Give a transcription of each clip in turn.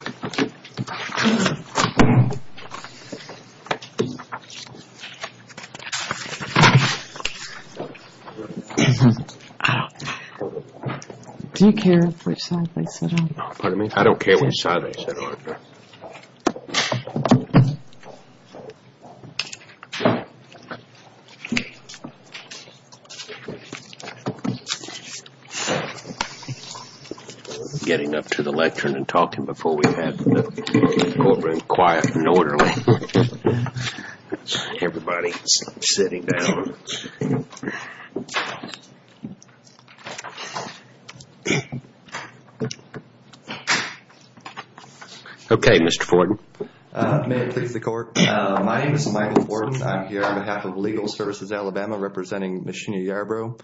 Do you care which side they sit on? I don't care which side they sit on. Getting up to the lectern and talking before we have the courtroom quiet and orderly. Everybody is sitting down. Okay, Mr. Fortin. May it please the court. My name is Michael Fortin. I'm here on behalf of Legal Services Alabama representing Ms. Sheena Yarbrough.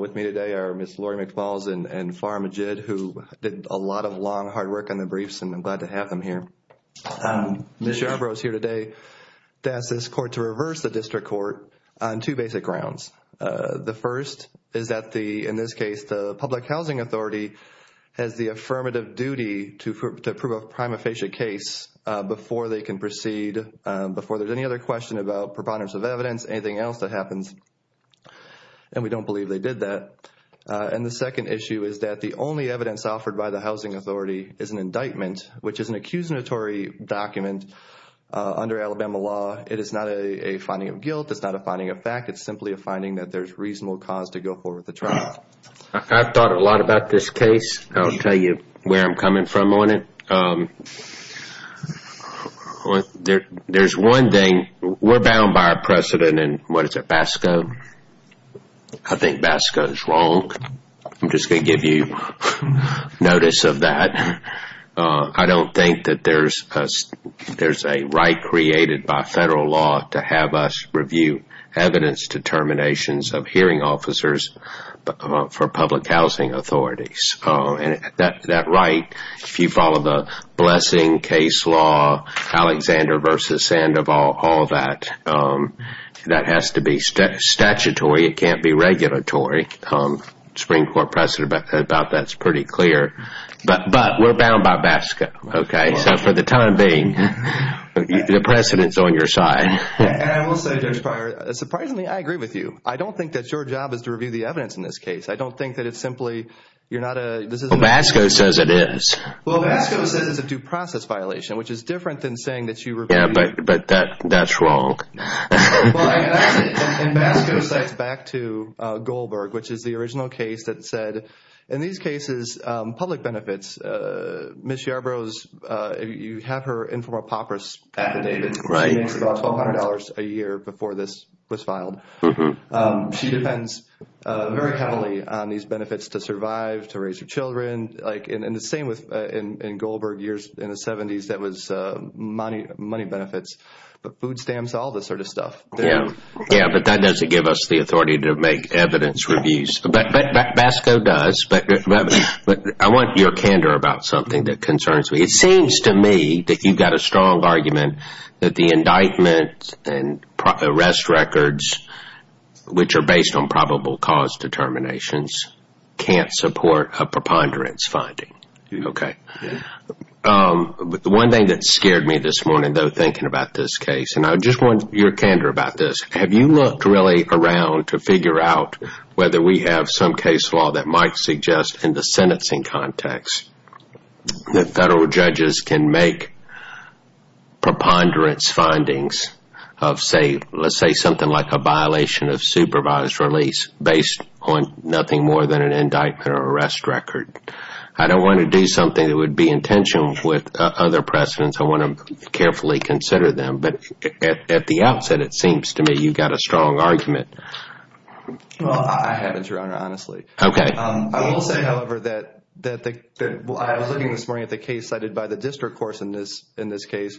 With me today are Ms. Lori McFalls and Farah Majid who did a lot of long, hard work on the briefs and I'm glad to have them here. Ms. Yarbrough is here today to ask this court to reverse the district court on two basic grounds. The first is that the, in this case, the public housing authority has the affirmative duty to approve a prima facie case before they can proceed, before there's any other question about preponderance of evidence, anything else that happens. And we don't believe they did that. And the second issue is that the only evidence offered by the housing authority is an indictment, which is an accusatory document under Alabama law. It is not a finding of guilt. It's not a finding of fact. It's simply a finding that there's reasonable cause to go forward with the trial. I've thought a lot about this case. I'll tell you where I'm coming from on it. There's one thing, we're bound by our precedent in, what is it, BASCO? I think BASCO is wrong. I'm just going to give you notice of that. I don't think that there's a right created by federal law to have us review evidence determinations of hearing officers for public housing authorities. That right, if you follow the blessing case law, Alexander versus Sandoval, all that, that has to be statutory. It can't be regulatory. The Supreme Court precedent about that is pretty clear. But we're bound by BASCO. So for the time being, the precedent is on your side. And I will say, Judge Pryor, surprisingly, I agree with you. I don't think that your job is to review the evidence in this case. I don't think that it's simply, you're not a... Well, BASCO says it is. Well, BASCO says it's a due process violation, which is different than saying that you review... Yeah, but that's wrong. Well, I guess, and BASCO sets back to Goldberg, which is the original case that said, in these cases, public benefits, Ms. Yarbrough's, you have her informal papyrus affidavit. She makes about $1,200 a year before this was filed. She depends very heavily on these benefits to survive, to raise her children. Like, and the same with, in Goldberg years, in the 70s, that was money benefits. But food stamps, all this sort of stuff. Yeah, but that doesn't give us the authority to make evidence reviews. BASCO does, but I want your candor about something that concerns me. It seems to me that you've got a strong argument that the indictment and arrest records, which are based on probable cause determinations, can't support a preponderance finding. Okay. But the one thing that scared me this morning, though, thinking about this case, and I just want your candor about this, is have you looked really around to figure out whether we have some case law that might suggest, in the sentencing context, that federal judges can make preponderance findings of, say, let's say something like a violation of supervised release based on nothing more than an indictment or arrest record? I don't want to do something that would be intentional with other precedents. I want to carefully consider them. But at the outset, it seems to me you've got a strong argument. Well, I haven't, Your Honor, honestly. Okay. I will say, however, that I was looking this morning at the case cited by the district court in this case,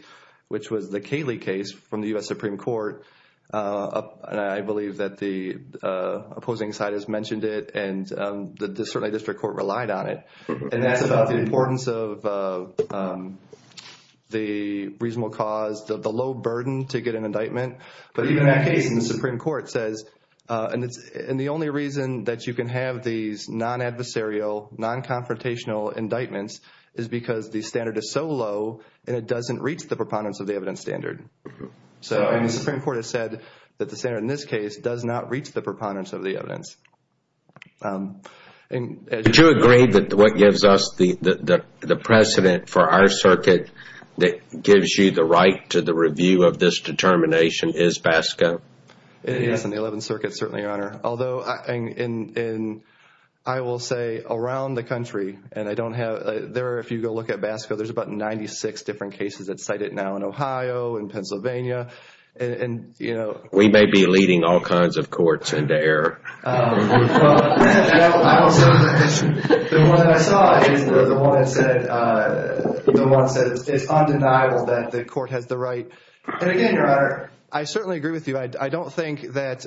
which was the Cayley case from the U.S. Supreme Court. I believe that the opposing side has mentioned it, and certainly the district court relied on it. And that's about the importance of the reasonable cause, the low burden to get an indictment. But even in that case, the Supreme Court says, and the only reason that you can have these non-adversarial, non-confrontational indictments is because the standard is so low, and it doesn't reach the preponderance of the evidence standard. And the Supreme Court has said that the standard in this case does not reach the preponderance of the evidence. Do you agree that what gives us the precedent for our circuit that gives you the right to the review of this determination is BASCO? Yes, in the Eleventh Circuit, certainly, Your Honor. Although, I will say, around the country, and I don't have, there, if you go look at BASCO, there's about 96 different cases that cite it now in Ohio, in Pennsylvania, and, you know. We may be leading all kinds of courts into error. Well, I will say that the one that I saw is the one that said, the one that said it's undeniable that the court has the right. And again, Your Honor, I certainly agree with you. I don't think that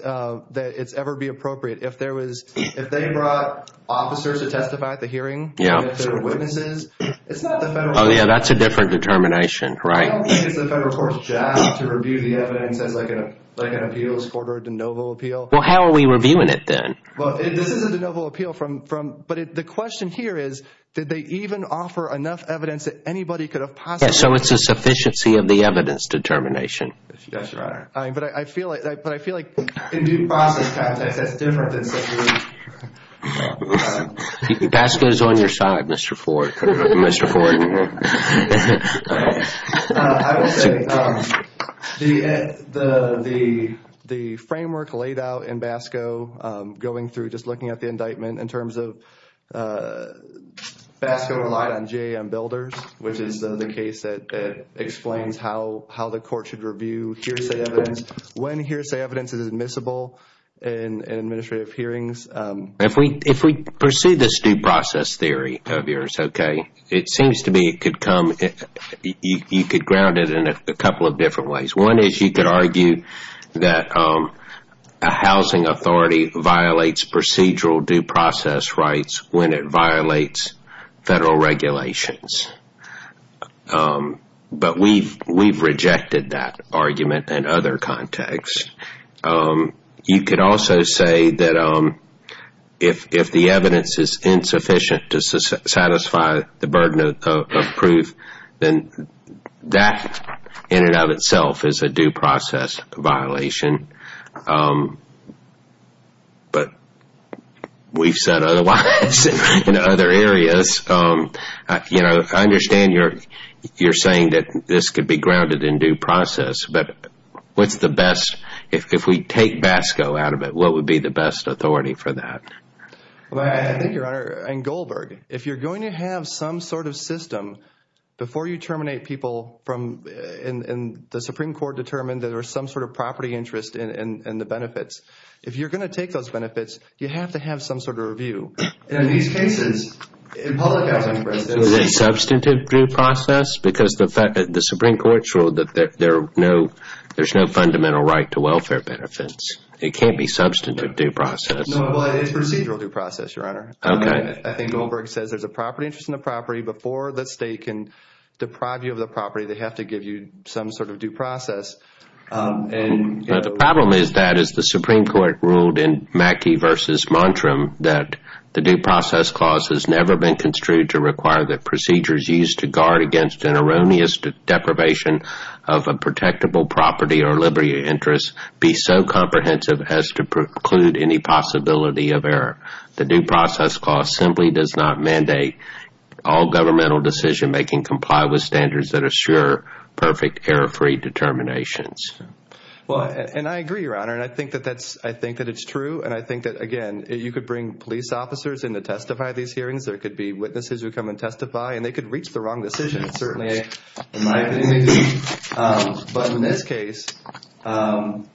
it's ever be appropriate. If there was, if they brought officers to testify at the hearing, and if there were witnesses, it's not the federal. Oh, yeah, that's a different determination, right. I don't think it's the federal court's job to review the evidence as, like, an appeals court or a de novo appeal. Well, how are we reviewing it then? Well, this is a de novo appeal from, but the question here is, did they even offer enough evidence that anybody could have possibly... Yeah, so it's a sufficiency of the evidence determination. Yes, Your Honor. But I feel like... In due process context, that's different than simply... BASCO is on your side, Mr. Ford. I will say, the framework laid out in BASCO, going through, just looking at the indictment, in terms of BASCO relied on GAM builders, which is the case that explains how the court should review hearsay evidence. When hearsay evidence is admissible in administrative hearings. If we pursue this due process theory of yours, okay, it seems to me it could come, you could ground it in a couple of different ways. One is you could argue that a housing authority violates procedural due process rights when it violates federal regulations. But we've rejected that argument in other contexts. You could also say that if the evidence is insufficient to satisfy the burden of proof, then that in and of itself is a due process violation. But we've said otherwise in other areas. I understand you're saying that this could be grounded in due process, but what's the best, if we take BASCO out of it, what would be the best authority for that? I think, Your Honor, in Goldberg, if you're going to have some sort of system, before you terminate people, and the Supreme Court determined that there was some sort of property interest in the benefits, if you're going to take those benefits, you have to have some sort of review. In these cases, in public housing... There's no fundamental right to welfare benefits. It can't be substantive due process. No, it's procedural due process, Your Honor. Okay. I think Goldberg says there's a property interest in the property. Before the state can deprive you of the property, they have to give you some sort of due process. The problem is that, as the Supreme Court ruled in Mackey v. Montrem, that the due process clause has never been construed to require that procedures used to guard against an erroneous deprivation of a protectable property or liberty interest be so comprehensive as to preclude any possibility of error. The due process clause simply does not mandate all governmental decision-making comply with standards that assure perfect error-free determinations. And I agree, Your Honor, and I think that it's true, and I think that, again, you could bring police officers in to testify at these hearings. There could be witnesses who come and testify, and they could reach the wrong decision, certainly. In my opinion, they do. But in this case, and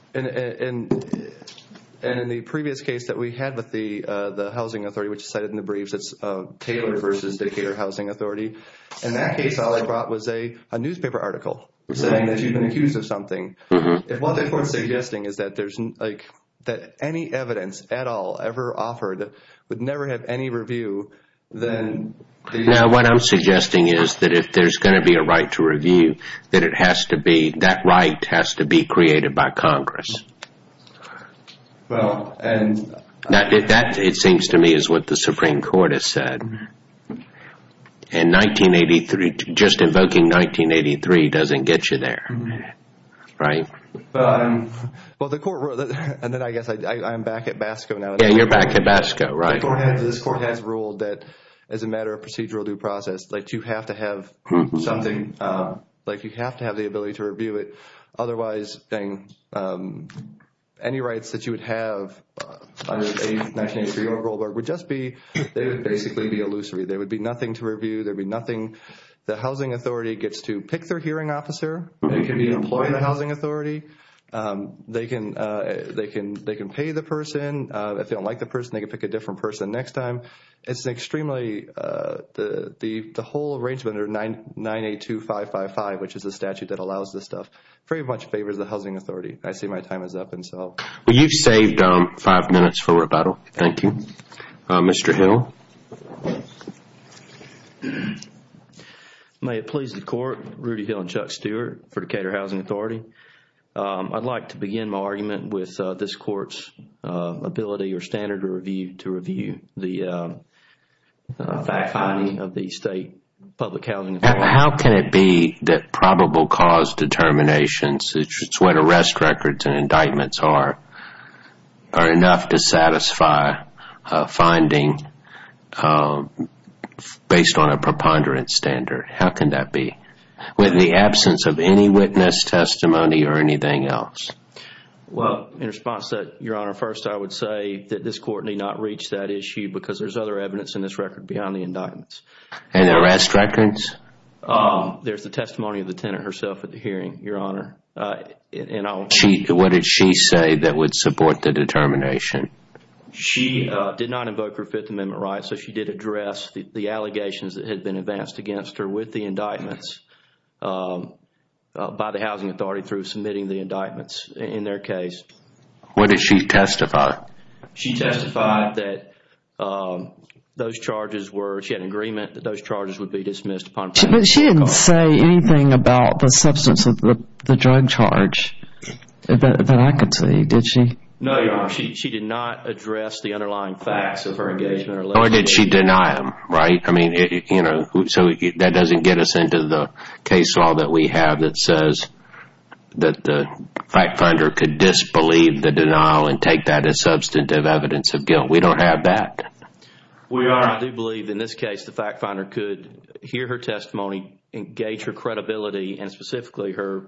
in the previous case that we had with the housing authority, which is cited in the briefs, it's Taylor v. Decatur Housing Authority. In that case, all I brought was a newspaper article saying that you've been accused of something. If what the Court is suggesting is that any evidence at all ever offered would never have any review, then… No, what I'm suggesting is that if there's going to be a right to review, that it has to be – that right has to be created by Congress. Well, and… That, it seems to me, is what the Supreme Court has said. And 1983, just invoking 1983 doesn't get you there, right? Well, the Court – and then I guess I'm back at BASCO now. Yeah, you're back at BASCO, right? The Court has ruled that as a matter of procedural due process, like, you have to have something – like, you have to have the ability to review it. Otherwise, dang, any rights that you would have under 1983 or Goldberg would just be – they would be illusory. There would be nothing to review. There would be nothing. The Housing Authority gets to pick their hearing officer. They can be an employee of the Housing Authority. They can pay the person. If they don't like the person, they can pick a different person next time. It's extremely – the whole arrangement under 982555, which is the statute that allows this stuff, pretty much favors the Housing Authority. I see my time is up, and so… Well, you've saved five minutes for rebuttal. Thank you. Mr. Hill? May it please the Court. Rudy Hill and Chuck Stewart for Decatur Housing Authority. I'd like to begin my argument with this Court's ability or standard to review the fact-finding of the State Public Housing Authority. How can it be that probable cause determinations, which is what arrest records and indictments are, are enough to satisfy a finding based on a preponderance standard? How can that be, with the absence of any witness testimony or anything else? Well, in response to that, Your Honor, first I would say that this Court need not reach that issue because there's other evidence in this record beyond the indictments. And arrest records? There's the testimony of the tenant herself at the hearing, Your Honor. What did she say that would support the determination? She did not invoke her Fifth Amendment rights, so she did address the allegations that had been advanced against her with the indictments by the Housing Authority through submitting the indictments in their case. What did she testify? She testified that those charges were, she had an agreement that those charges would be dismissed upon But she didn't say anything about the substance of the drug charge that I could see, did she? No, Your Honor, she did not address the underlying facts of her engagement or litigation. Or did she deny them, right? I mean, you know, so that doesn't get us into the case law that we have that says that the fact finder could disbelieve the denial and take that as substantive evidence of guilt. We don't have that. Well, Your Honor, I do believe in this case the fact finder could hear her testimony, engage her credibility, and specifically her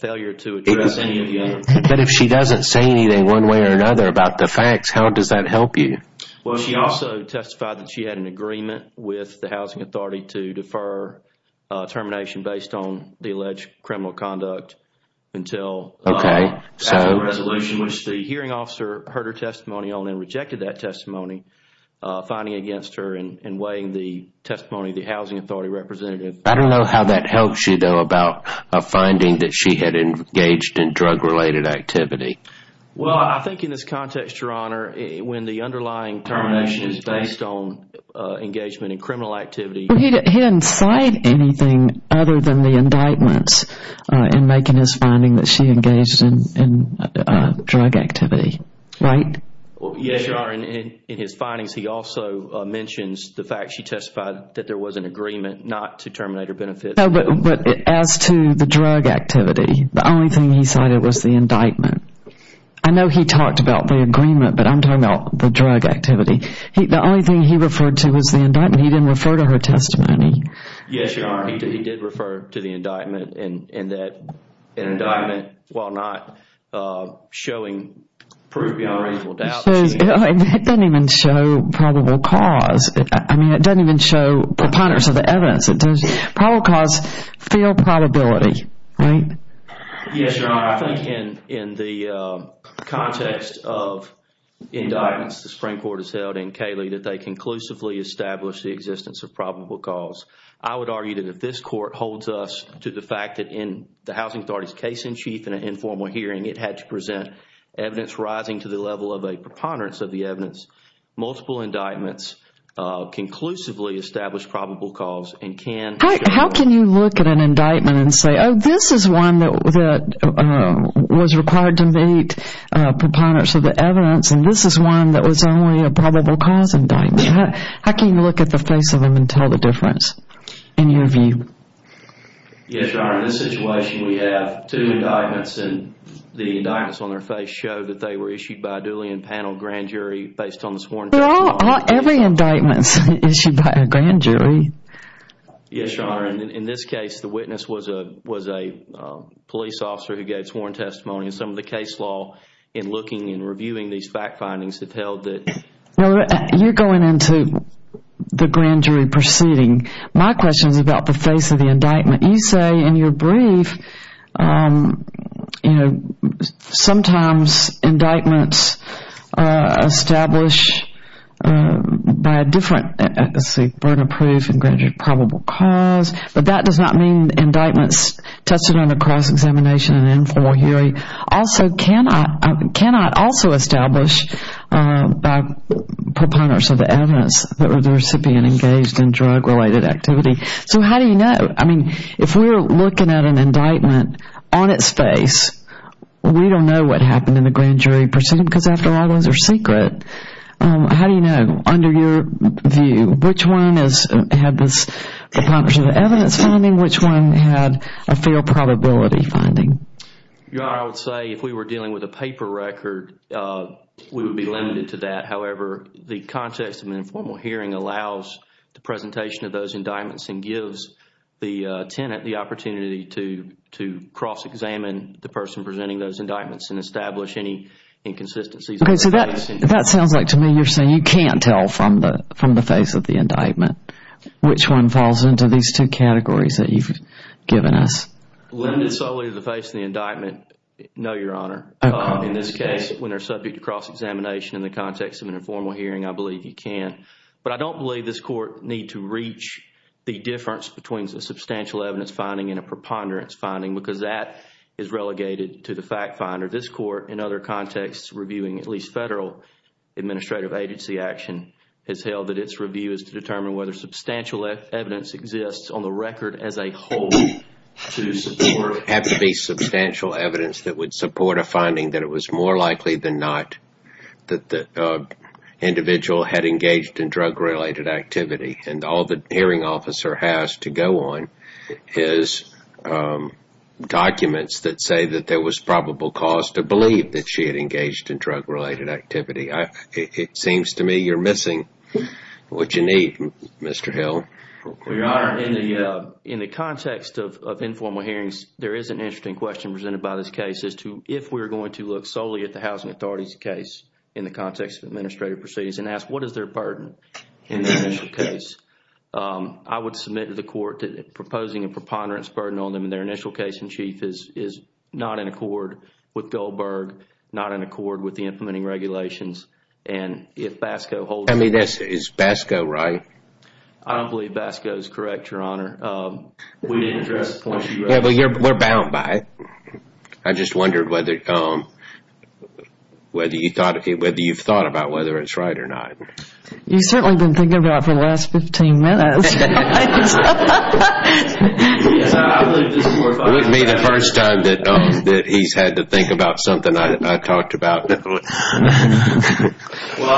failure to address any of the others. But if she doesn't say anything one way or another about the facts, how does that help you? Well, she also testified that she had an agreement with the Housing Authority to defer termination based on the alleged criminal conduct until Okay, so after a resolution which the hearing officer heard her testimony on and rejected that testimony, finding against her and weighing the testimony of the Housing Authority representative. I don't know how that helps you, though, about a finding that she had engaged in drug-related activity. Well, I think in this context, Your Honor, when the underlying termination is based on engagement in criminal activity. He didn't cite anything other than the indictments in making his finding that she engaged in drug activity, right? Yes, Your Honor. In his findings, he also mentions the fact she testified that there was an agreement not to terminate her benefits. But as to the drug activity, the only thing he cited was the indictment. I know he talked about the agreement, but I'm talking about the drug activity. The only thing he referred to was the indictment. He didn't refer to her testimony. Yes, Your Honor. He did refer to the indictment. And that indictment, while not showing proof beyond a reasonable doubt. It doesn't even show probable cause. I mean, it doesn't even show preponderance of the evidence. Probable cause, feel probability, right? Yes, Your Honor. I think in the context of indictments the Supreme Court has held in Cayley that they conclusively established the existence of probable cause. I would argue that if this Court holds us to the fact that in the Housing Authority's case-in-chief in an informal hearing, it had to present evidence rising to the level of a preponderance of the evidence. Multiple indictments conclusively establish probable cause and can... How can you look at an indictment and say, oh, this is one that was required to meet preponderance of the evidence and this is one that was only a probable cause indictment? How can you look at the face of them and tell the difference in your view? Yes, Your Honor. In this situation, we have two indictments and the indictments on their face show that they were issued by a duly impaneled grand jury based on the sworn testimony. Every indictment is issued by a grand jury. Yes, Your Honor. In this case, the witness was a police officer who gave sworn testimony. Some of the case law in looking and reviewing these fact findings have held that... You're going into the grand jury proceeding. My question is about the face of the indictment. You say in your brief, you know, sometimes indictments establish by a different... Let's see, burden of proof and granted probable cause, but that does not mean indictments tested on a cross-examination and informal hearing also cannot...cannot also establish by preponderance of the evidence that the recipient engaged in drug-related activity. So how do you know? I mean, if we're looking at an indictment on its face, we don't know what happened in the grand jury proceeding because, after all, those are secret. How do you know? Under your view, which one has had this preponderance of the evidence finding? Which one had a failed probability finding? Your Honor, I would say if we were dealing with a paper record, we would be limited to that. However, the context of an informal hearing allows the presentation of those indictments and gives the tenant the opportunity to cross-examine the person presenting those indictments and establish any inconsistencies. Okay, so that sounds like to me you're saying you can't tell from the face of the indictment which one falls into these two categories that you've given us. Limited solely to the face of the indictment, no, Your Honor. In this case, when they're subject to cross-examination in the context of an informal hearing, I believe you can. But I don't believe this Court need to reach the difference between a substantial evidence finding and a preponderance finding because that is relegated to the fact finder. This Court, in other contexts reviewing at least federal administrative agency action, has held that its review is to determine whether substantial evidence exists on the record as a whole to support... It would have to be substantial evidence that would support a finding that it was more likely than not that the individual had engaged in drug-related activity. And all the hearing officer has to go on is documents that say that there was probable cause to believe that she had engaged in drug-related activity. It seems to me you're missing what you need, Mr. Hill. Your Honor, in the context of informal hearings, there is an interesting question presented by this case as to if we're going to look solely at the housing authority's case in the context of administrative proceedings and ask what is their burden in the initial case. I would submit to the Court that proposing a preponderance burden on them in their initial case-in-chief is not in accord with Goldberg, not in accord with the implementing regulations. And if BASCO holds... Is BASCO right? I don't believe BASCO is correct, Your Honor. We didn't address... We're bound by it. I just wondered whether you've thought about whether it's right or not. You've certainly been thinking about it for the last 15 minutes. It wouldn't be the first time that he's had to think about something I talked about. Well, I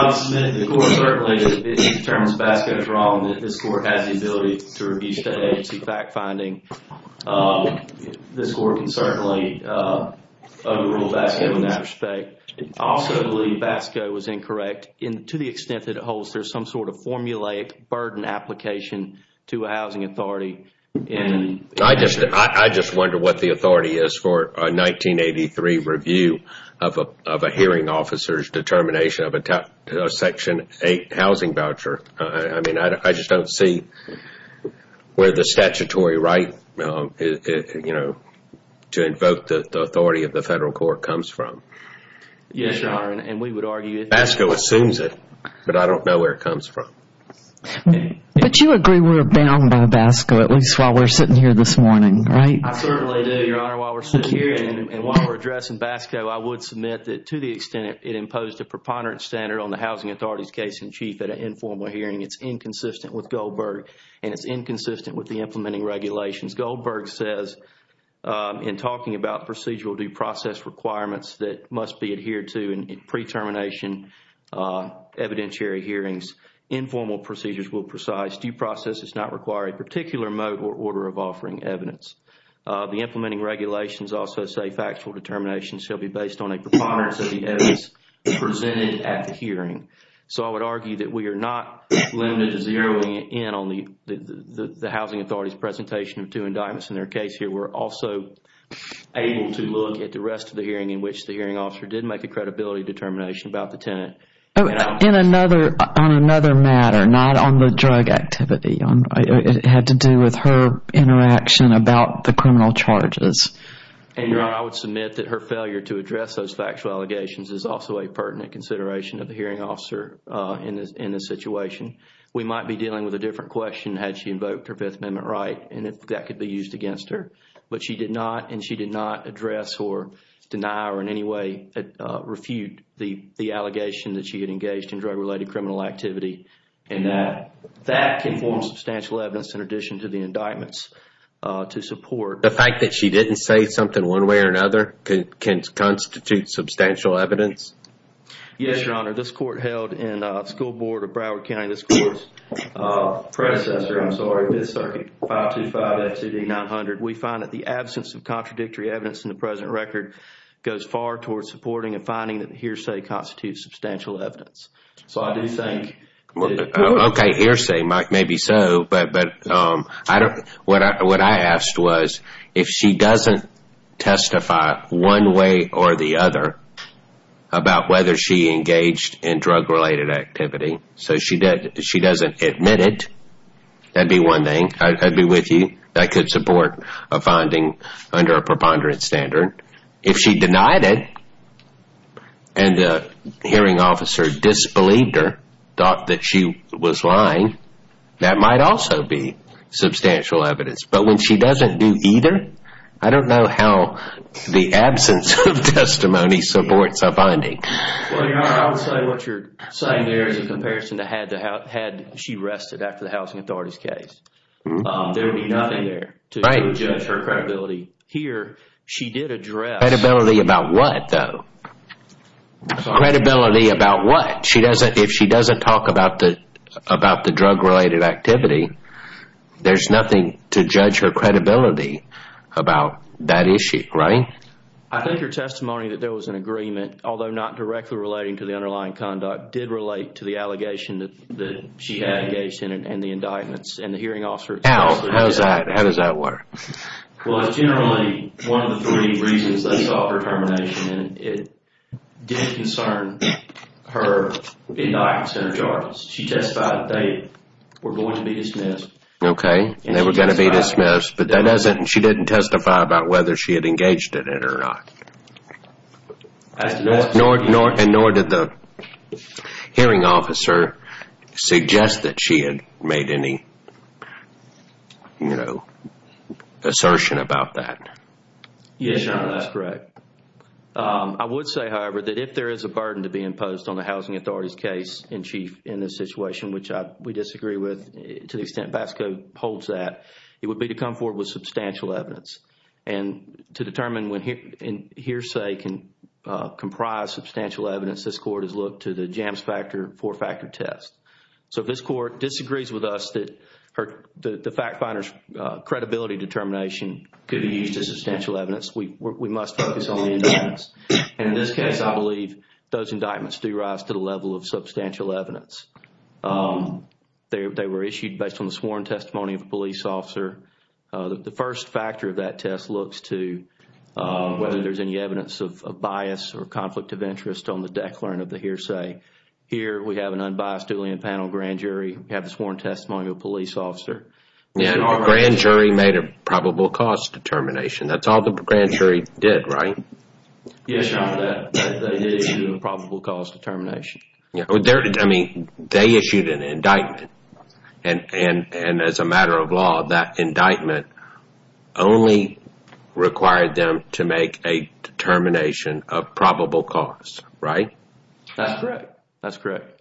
would submit to the Court certainly that if he determines BASCO is wrong, that this Court has the ability to review state agency fact-finding. This Court can certainly overrule BASCO in that respect. I also believe BASCO was incorrect to the extent that it holds there's some sort of formulaic burden application to a housing authority. I just wonder what the authority is for a 1983 review of a hearing officer's determination of a Section 8 housing voucher. I just don't see where the statutory right to invoke the authority of the Federal Court comes from. Yes, Your Honor, and we would argue... BASCO assumes it, but I don't know where it comes from. But you agree we're bound by BASCO, at least while we're sitting here this morning, right? I certainly do, Your Honor. While we're sitting here and while we're addressing BASCO, I would submit that to the extent it imposed a preponderance standard on the housing authority's case in chief at an informal hearing, it's inconsistent with Goldberg and it's inconsistent with the implementing regulations. Goldberg says in talking about procedural due process requirements that must be adhered to in pre-termination evidentiary hearings, informal procedures will precise due process does not require a particular mode or order of offering evidence. The implementing regulations also say factual determination shall be based on a preponderance of the evidence presented at the hearing. So I would argue that we are not limited to zeroing in on the housing authority's presentation of two indictments in their case here. We're also able to look at the rest of the hearing in which the hearing officer did make a credibility determination about the tenant. On another matter, not on the drug activity. It had to do with her interaction about the criminal charges. Your Honor, I would submit that her failure to address those factual allegations is also a pertinent consideration of the hearing officer in this situation. We might be dealing with a different question had she invoked her Fifth Amendment right and if that could be used against her. But she did not and she did not address or deny or in any way refute the allegation that she had engaged in drug-related criminal activity. And that can form substantial evidence in addition to the indictments to support. The fact that she didn't say something one way or another can constitute substantial evidence? Yes, Your Honor. This court held in the school board of Broward County. Predecessor, I'm sorry, Fifth Circuit 525 FCD 900. We find that the absence of contradictory evidence in the present record goes far towards supporting and finding that hearsay constitutes substantial evidence. So I do think... Okay, hearsay, maybe so. But what I asked was if she doesn't testify one way or the other about whether she engaged in drug-related activity. So if she doesn't admit it, that'd be one thing. I'd be with you. That could support a finding under a preponderance standard. If she denied it and the hearing officer disbelieved her, thought that she was lying, that might also be substantial evidence. But when she doesn't do either, I don't know how the absence of testimony supports a finding. Well, Your Honor, I would say what you're saying there is a comparison to had she rested after the housing authority's case. There would be nothing there to judge her credibility. Here, she did address... Credibility about what, though? Credibility about what? If she doesn't talk about the drug-related activity, there's nothing to judge her credibility about that issue, right? I think her testimony that there was an agreement, although not directly relating to the underlying conduct, did relate to the allegation that she had engaged in and the indictments and the hearing officer... How? How does that work? Well, it's generally one of the three reasons they sought her termination. It did concern her indictments and her charges. She testified that they were going to be dismissed. Okay, they were going to be dismissed, but she didn't testify about whether she had engaged in it or not. And nor did the hearing officer suggest that she had made any assertion about that. Yes, Your Honor, that's correct. I would say, however, that if there is a burden to be imposed on the housing authority's case in chief in this situation, which we disagree with to the extent BASCO holds that, it would be to come forward with substantial evidence. And to determine when hearsay can comprise substantial evidence, this Court has looked to the Jams Factor four-factor test. So if this Court disagrees with us that the fact finder's credibility determination could be used as substantial evidence, we must focus on the indictments. And in this case, I believe those indictments do rise to the level of substantial evidence. They were issued based on the sworn testimony of a police officer. The first factor of that test looks to whether there's any evidence of bias or conflict of interest on the declarant of the hearsay. Here we have an unbiased dueling panel grand jury. We have the sworn testimony of a police officer. Grand jury made a probable cause determination. That's all the grand jury did, right? Yes, Your Honor, they did issue a probable cause determination. I mean, they issued an indictment. And as a matter of law, that indictment only required them to make a determination of probable cause, right? That's correct. That's correct.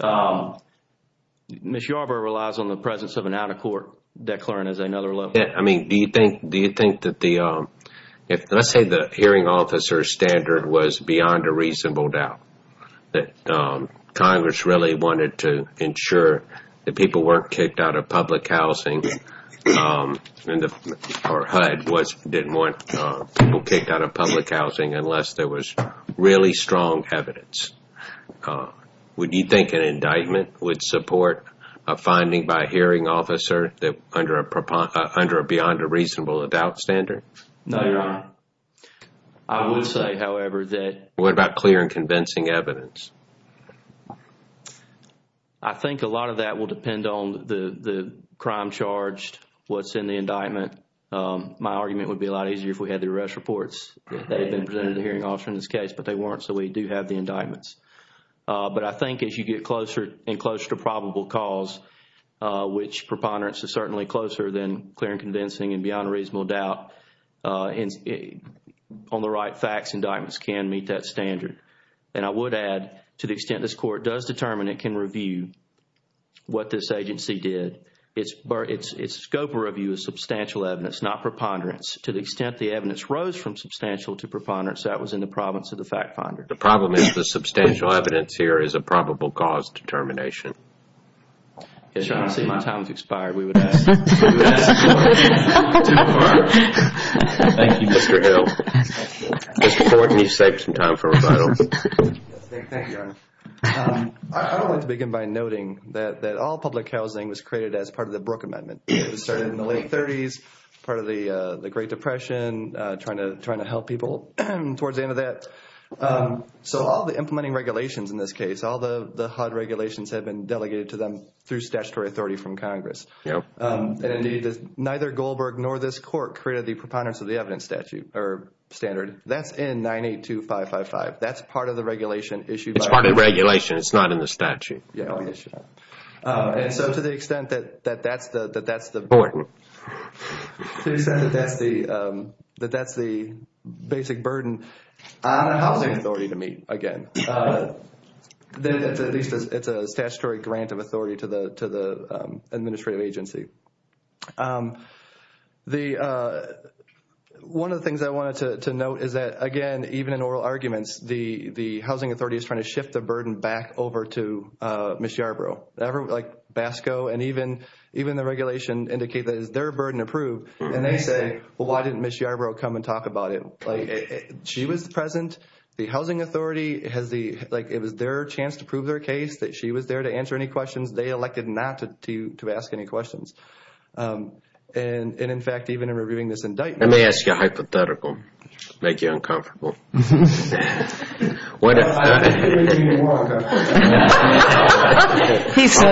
Ms. Yarbrough relies on the presence of an out-of-court declarant as another level. I mean, do you think that the – let's say the hearing officer standard was beyond a reasonable doubt, that Congress really wanted to ensure that people weren't kicked out of public housing or HUD didn't want people kicked out of public housing unless there was really strong evidence. Would you think an indictment would support a finding by a hearing officer under a beyond a reasonable doubt standard? No, Your Honor. I would say, however, that – What about clear and convincing evidence? I think a lot of that will depend on the crime charged, what's in the indictment. My argument would be a lot easier if we had the arrest reports that had been presented to the hearing officer in this case, but they weren't, so we do have the indictments. But I think as you get closer and closer to probable cause, which preponderance is certainly closer than clear and convincing and beyond a reasonable doubt, on the right facts, indictments can meet that standard. And I would add, to the extent this Court does determine it can review what this agency did, its scope of review is substantial evidence, not preponderance. To the extent the evidence rose from substantial to preponderance, that was in the province of the fact finder. The problem is the substantial evidence here is a probable cause determination. As you can see, my time has expired. We would ask you to do that. Thank you, Mr. Hill. Mr. Thornton, you saved some time for rebuttal. Thank you, Your Honor. I would like to begin by noting that all public housing was created as part of the Brooke Amendment. It started in the late 30s, part of the Great Depression, trying to help people towards the end of that. So all the implementing regulations in this case, all the HUD regulations have been delegated to them through statutory authority from Congress. And, indeed, neither Goldberg nor this Court created the preponderance of the evidence statute or standard. That's in 982555. That's part of the regulation issued. It's not in the statute. And so to the extent that that's the basic burden on a housing authority to meet, again, then at least it's a statutory grant of authority to the administrative agency. One of the things I wanted to note is that, again, even in oral arguments, the housing authority is trying to shift the burden back over to Ms. Yarbrough. Like BASCO and even the regulation indicate that it's their burden to prove. And they say, well, why didn't Ms. Yarbrough come and talk about it? She was present. The housing authority has the – like it was their chance to prove their case that she was there to answer any questions. They elected not to ask any questions. And, in fact, even in reviewing this indictment – And they ask you a hypothetical. Make you uncomfortable. He said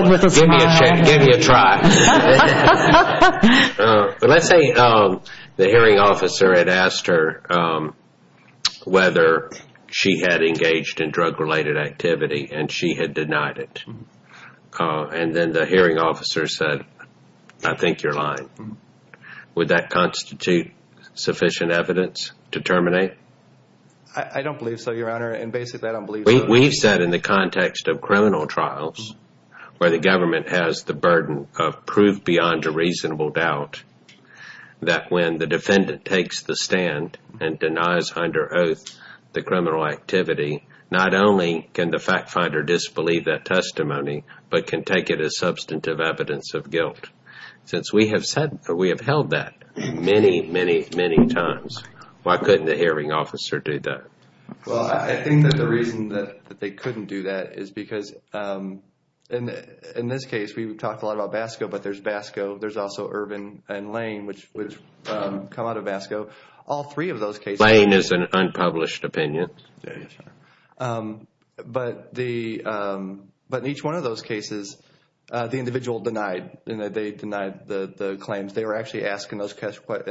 with a smile. Give me a try. But let's say the hearing officer had asked her whether she had engaged in drug-related activity, and she had denied it. And then the hearing officer said, I think you're lying. Would that constitute sufficient evidence to terminate? I don't believe so, Your Honor. And basically, I don't believe so. We've said in the context of criminal trials where the government has the burden of prove beyond a reasonable doubt that when the defendant takes the stand and denies under oath the criminal activity, not only can the fact finder disbelieve that testimony, but can take it as substantive evidence of guilt. Since we have held that many, many, many times, why couldn't the hearing officer do that? Well, I think that the reason that they couldn't do that is because in this case, we talked a lot about BASCO, but there's BASCO. There's also Ervin and Lane, which come out of BASCO. All three of those cases – Lane is an unpublished opinion. Yes, Your Honor. But in each one of those cases, the individual denied. They denied the claims. They were actually asked in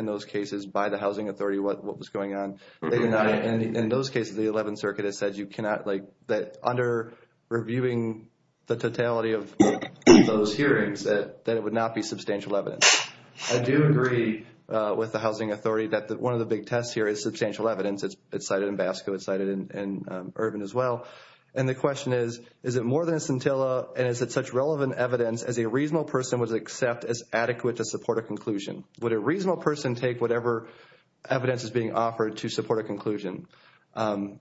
those cases by the housing authority what was going on. They denied it. And in those cases, the 11th Circuit has said you cannot – that under reviewing the totality of those hearings, that it would not be substantial evidence. I do agree with the housing authority that one of the big tests here is substantial evidence. It's cited in BASCO. It's cited in Ervin as well. And the question is, is it more than a scintilla, and is it such relevant evidence, as a reasonable person would accept as adequate to support a conclusion? Would a reasonable person take whatever evidence is being offered to support a conclusion? I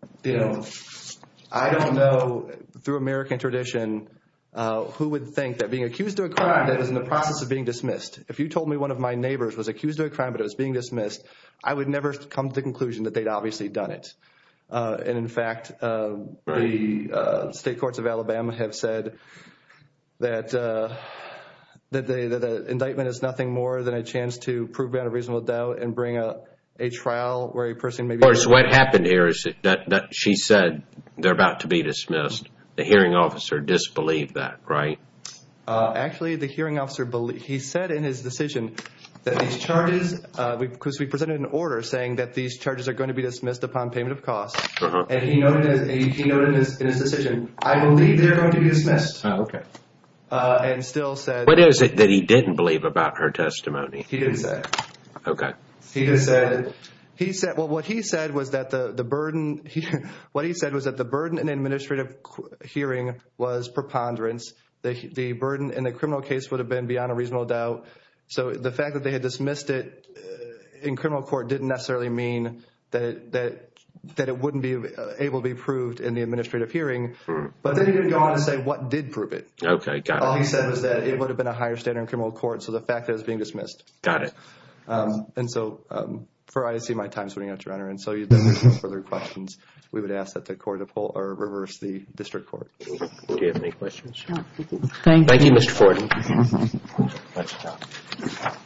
don't know, through American tradition, who would think that being accused of a crime that is in the process of being dismissed – if you told me one of my neighbors was accused of a crime but it was being dismissed, I would never come to the conclusion that they'd obviously done it. And, in fact, the state courts of Alabama have said that the indictment is nothing more than a chance to prove out a reasonable doubt and bring a trial where a person may be – Of course, what happened here is that she said they're about to be dismissed. The hearing officer disbelieved that, right? Actually, the hearing officer – he said in his decision that these charges – because we presented an order saying that these charges are going to be dismissed upon payment of costs. And he noted in his decision, I believe they're going to be dismissed. And still said – What is it that he didn't believe about her testimony? He didn't say. Okay. He just said – well, what he said was that the burden – what he said was that the burden in an administrative hearing was preponderance. The burden in a criminal case would have been beyond a reasonable doubt. So the fact that they had dismissed it in criminal court didn't necessarily mean that it wouldn't be able to be proved in the administrative hearing. But they didn't even go on to say what did prove it. Okay. Got it. All he said was that it would have been a higher standard in criminal court. So the fact that it was being dismissed. Got it. And so for – I see my time is running out, Your Honor. And so if there are no further questions, we would ask that the court reverse the district court. Do you have any questions? No, thank you. Thank you, Mr. Ford. Thank you. Okay.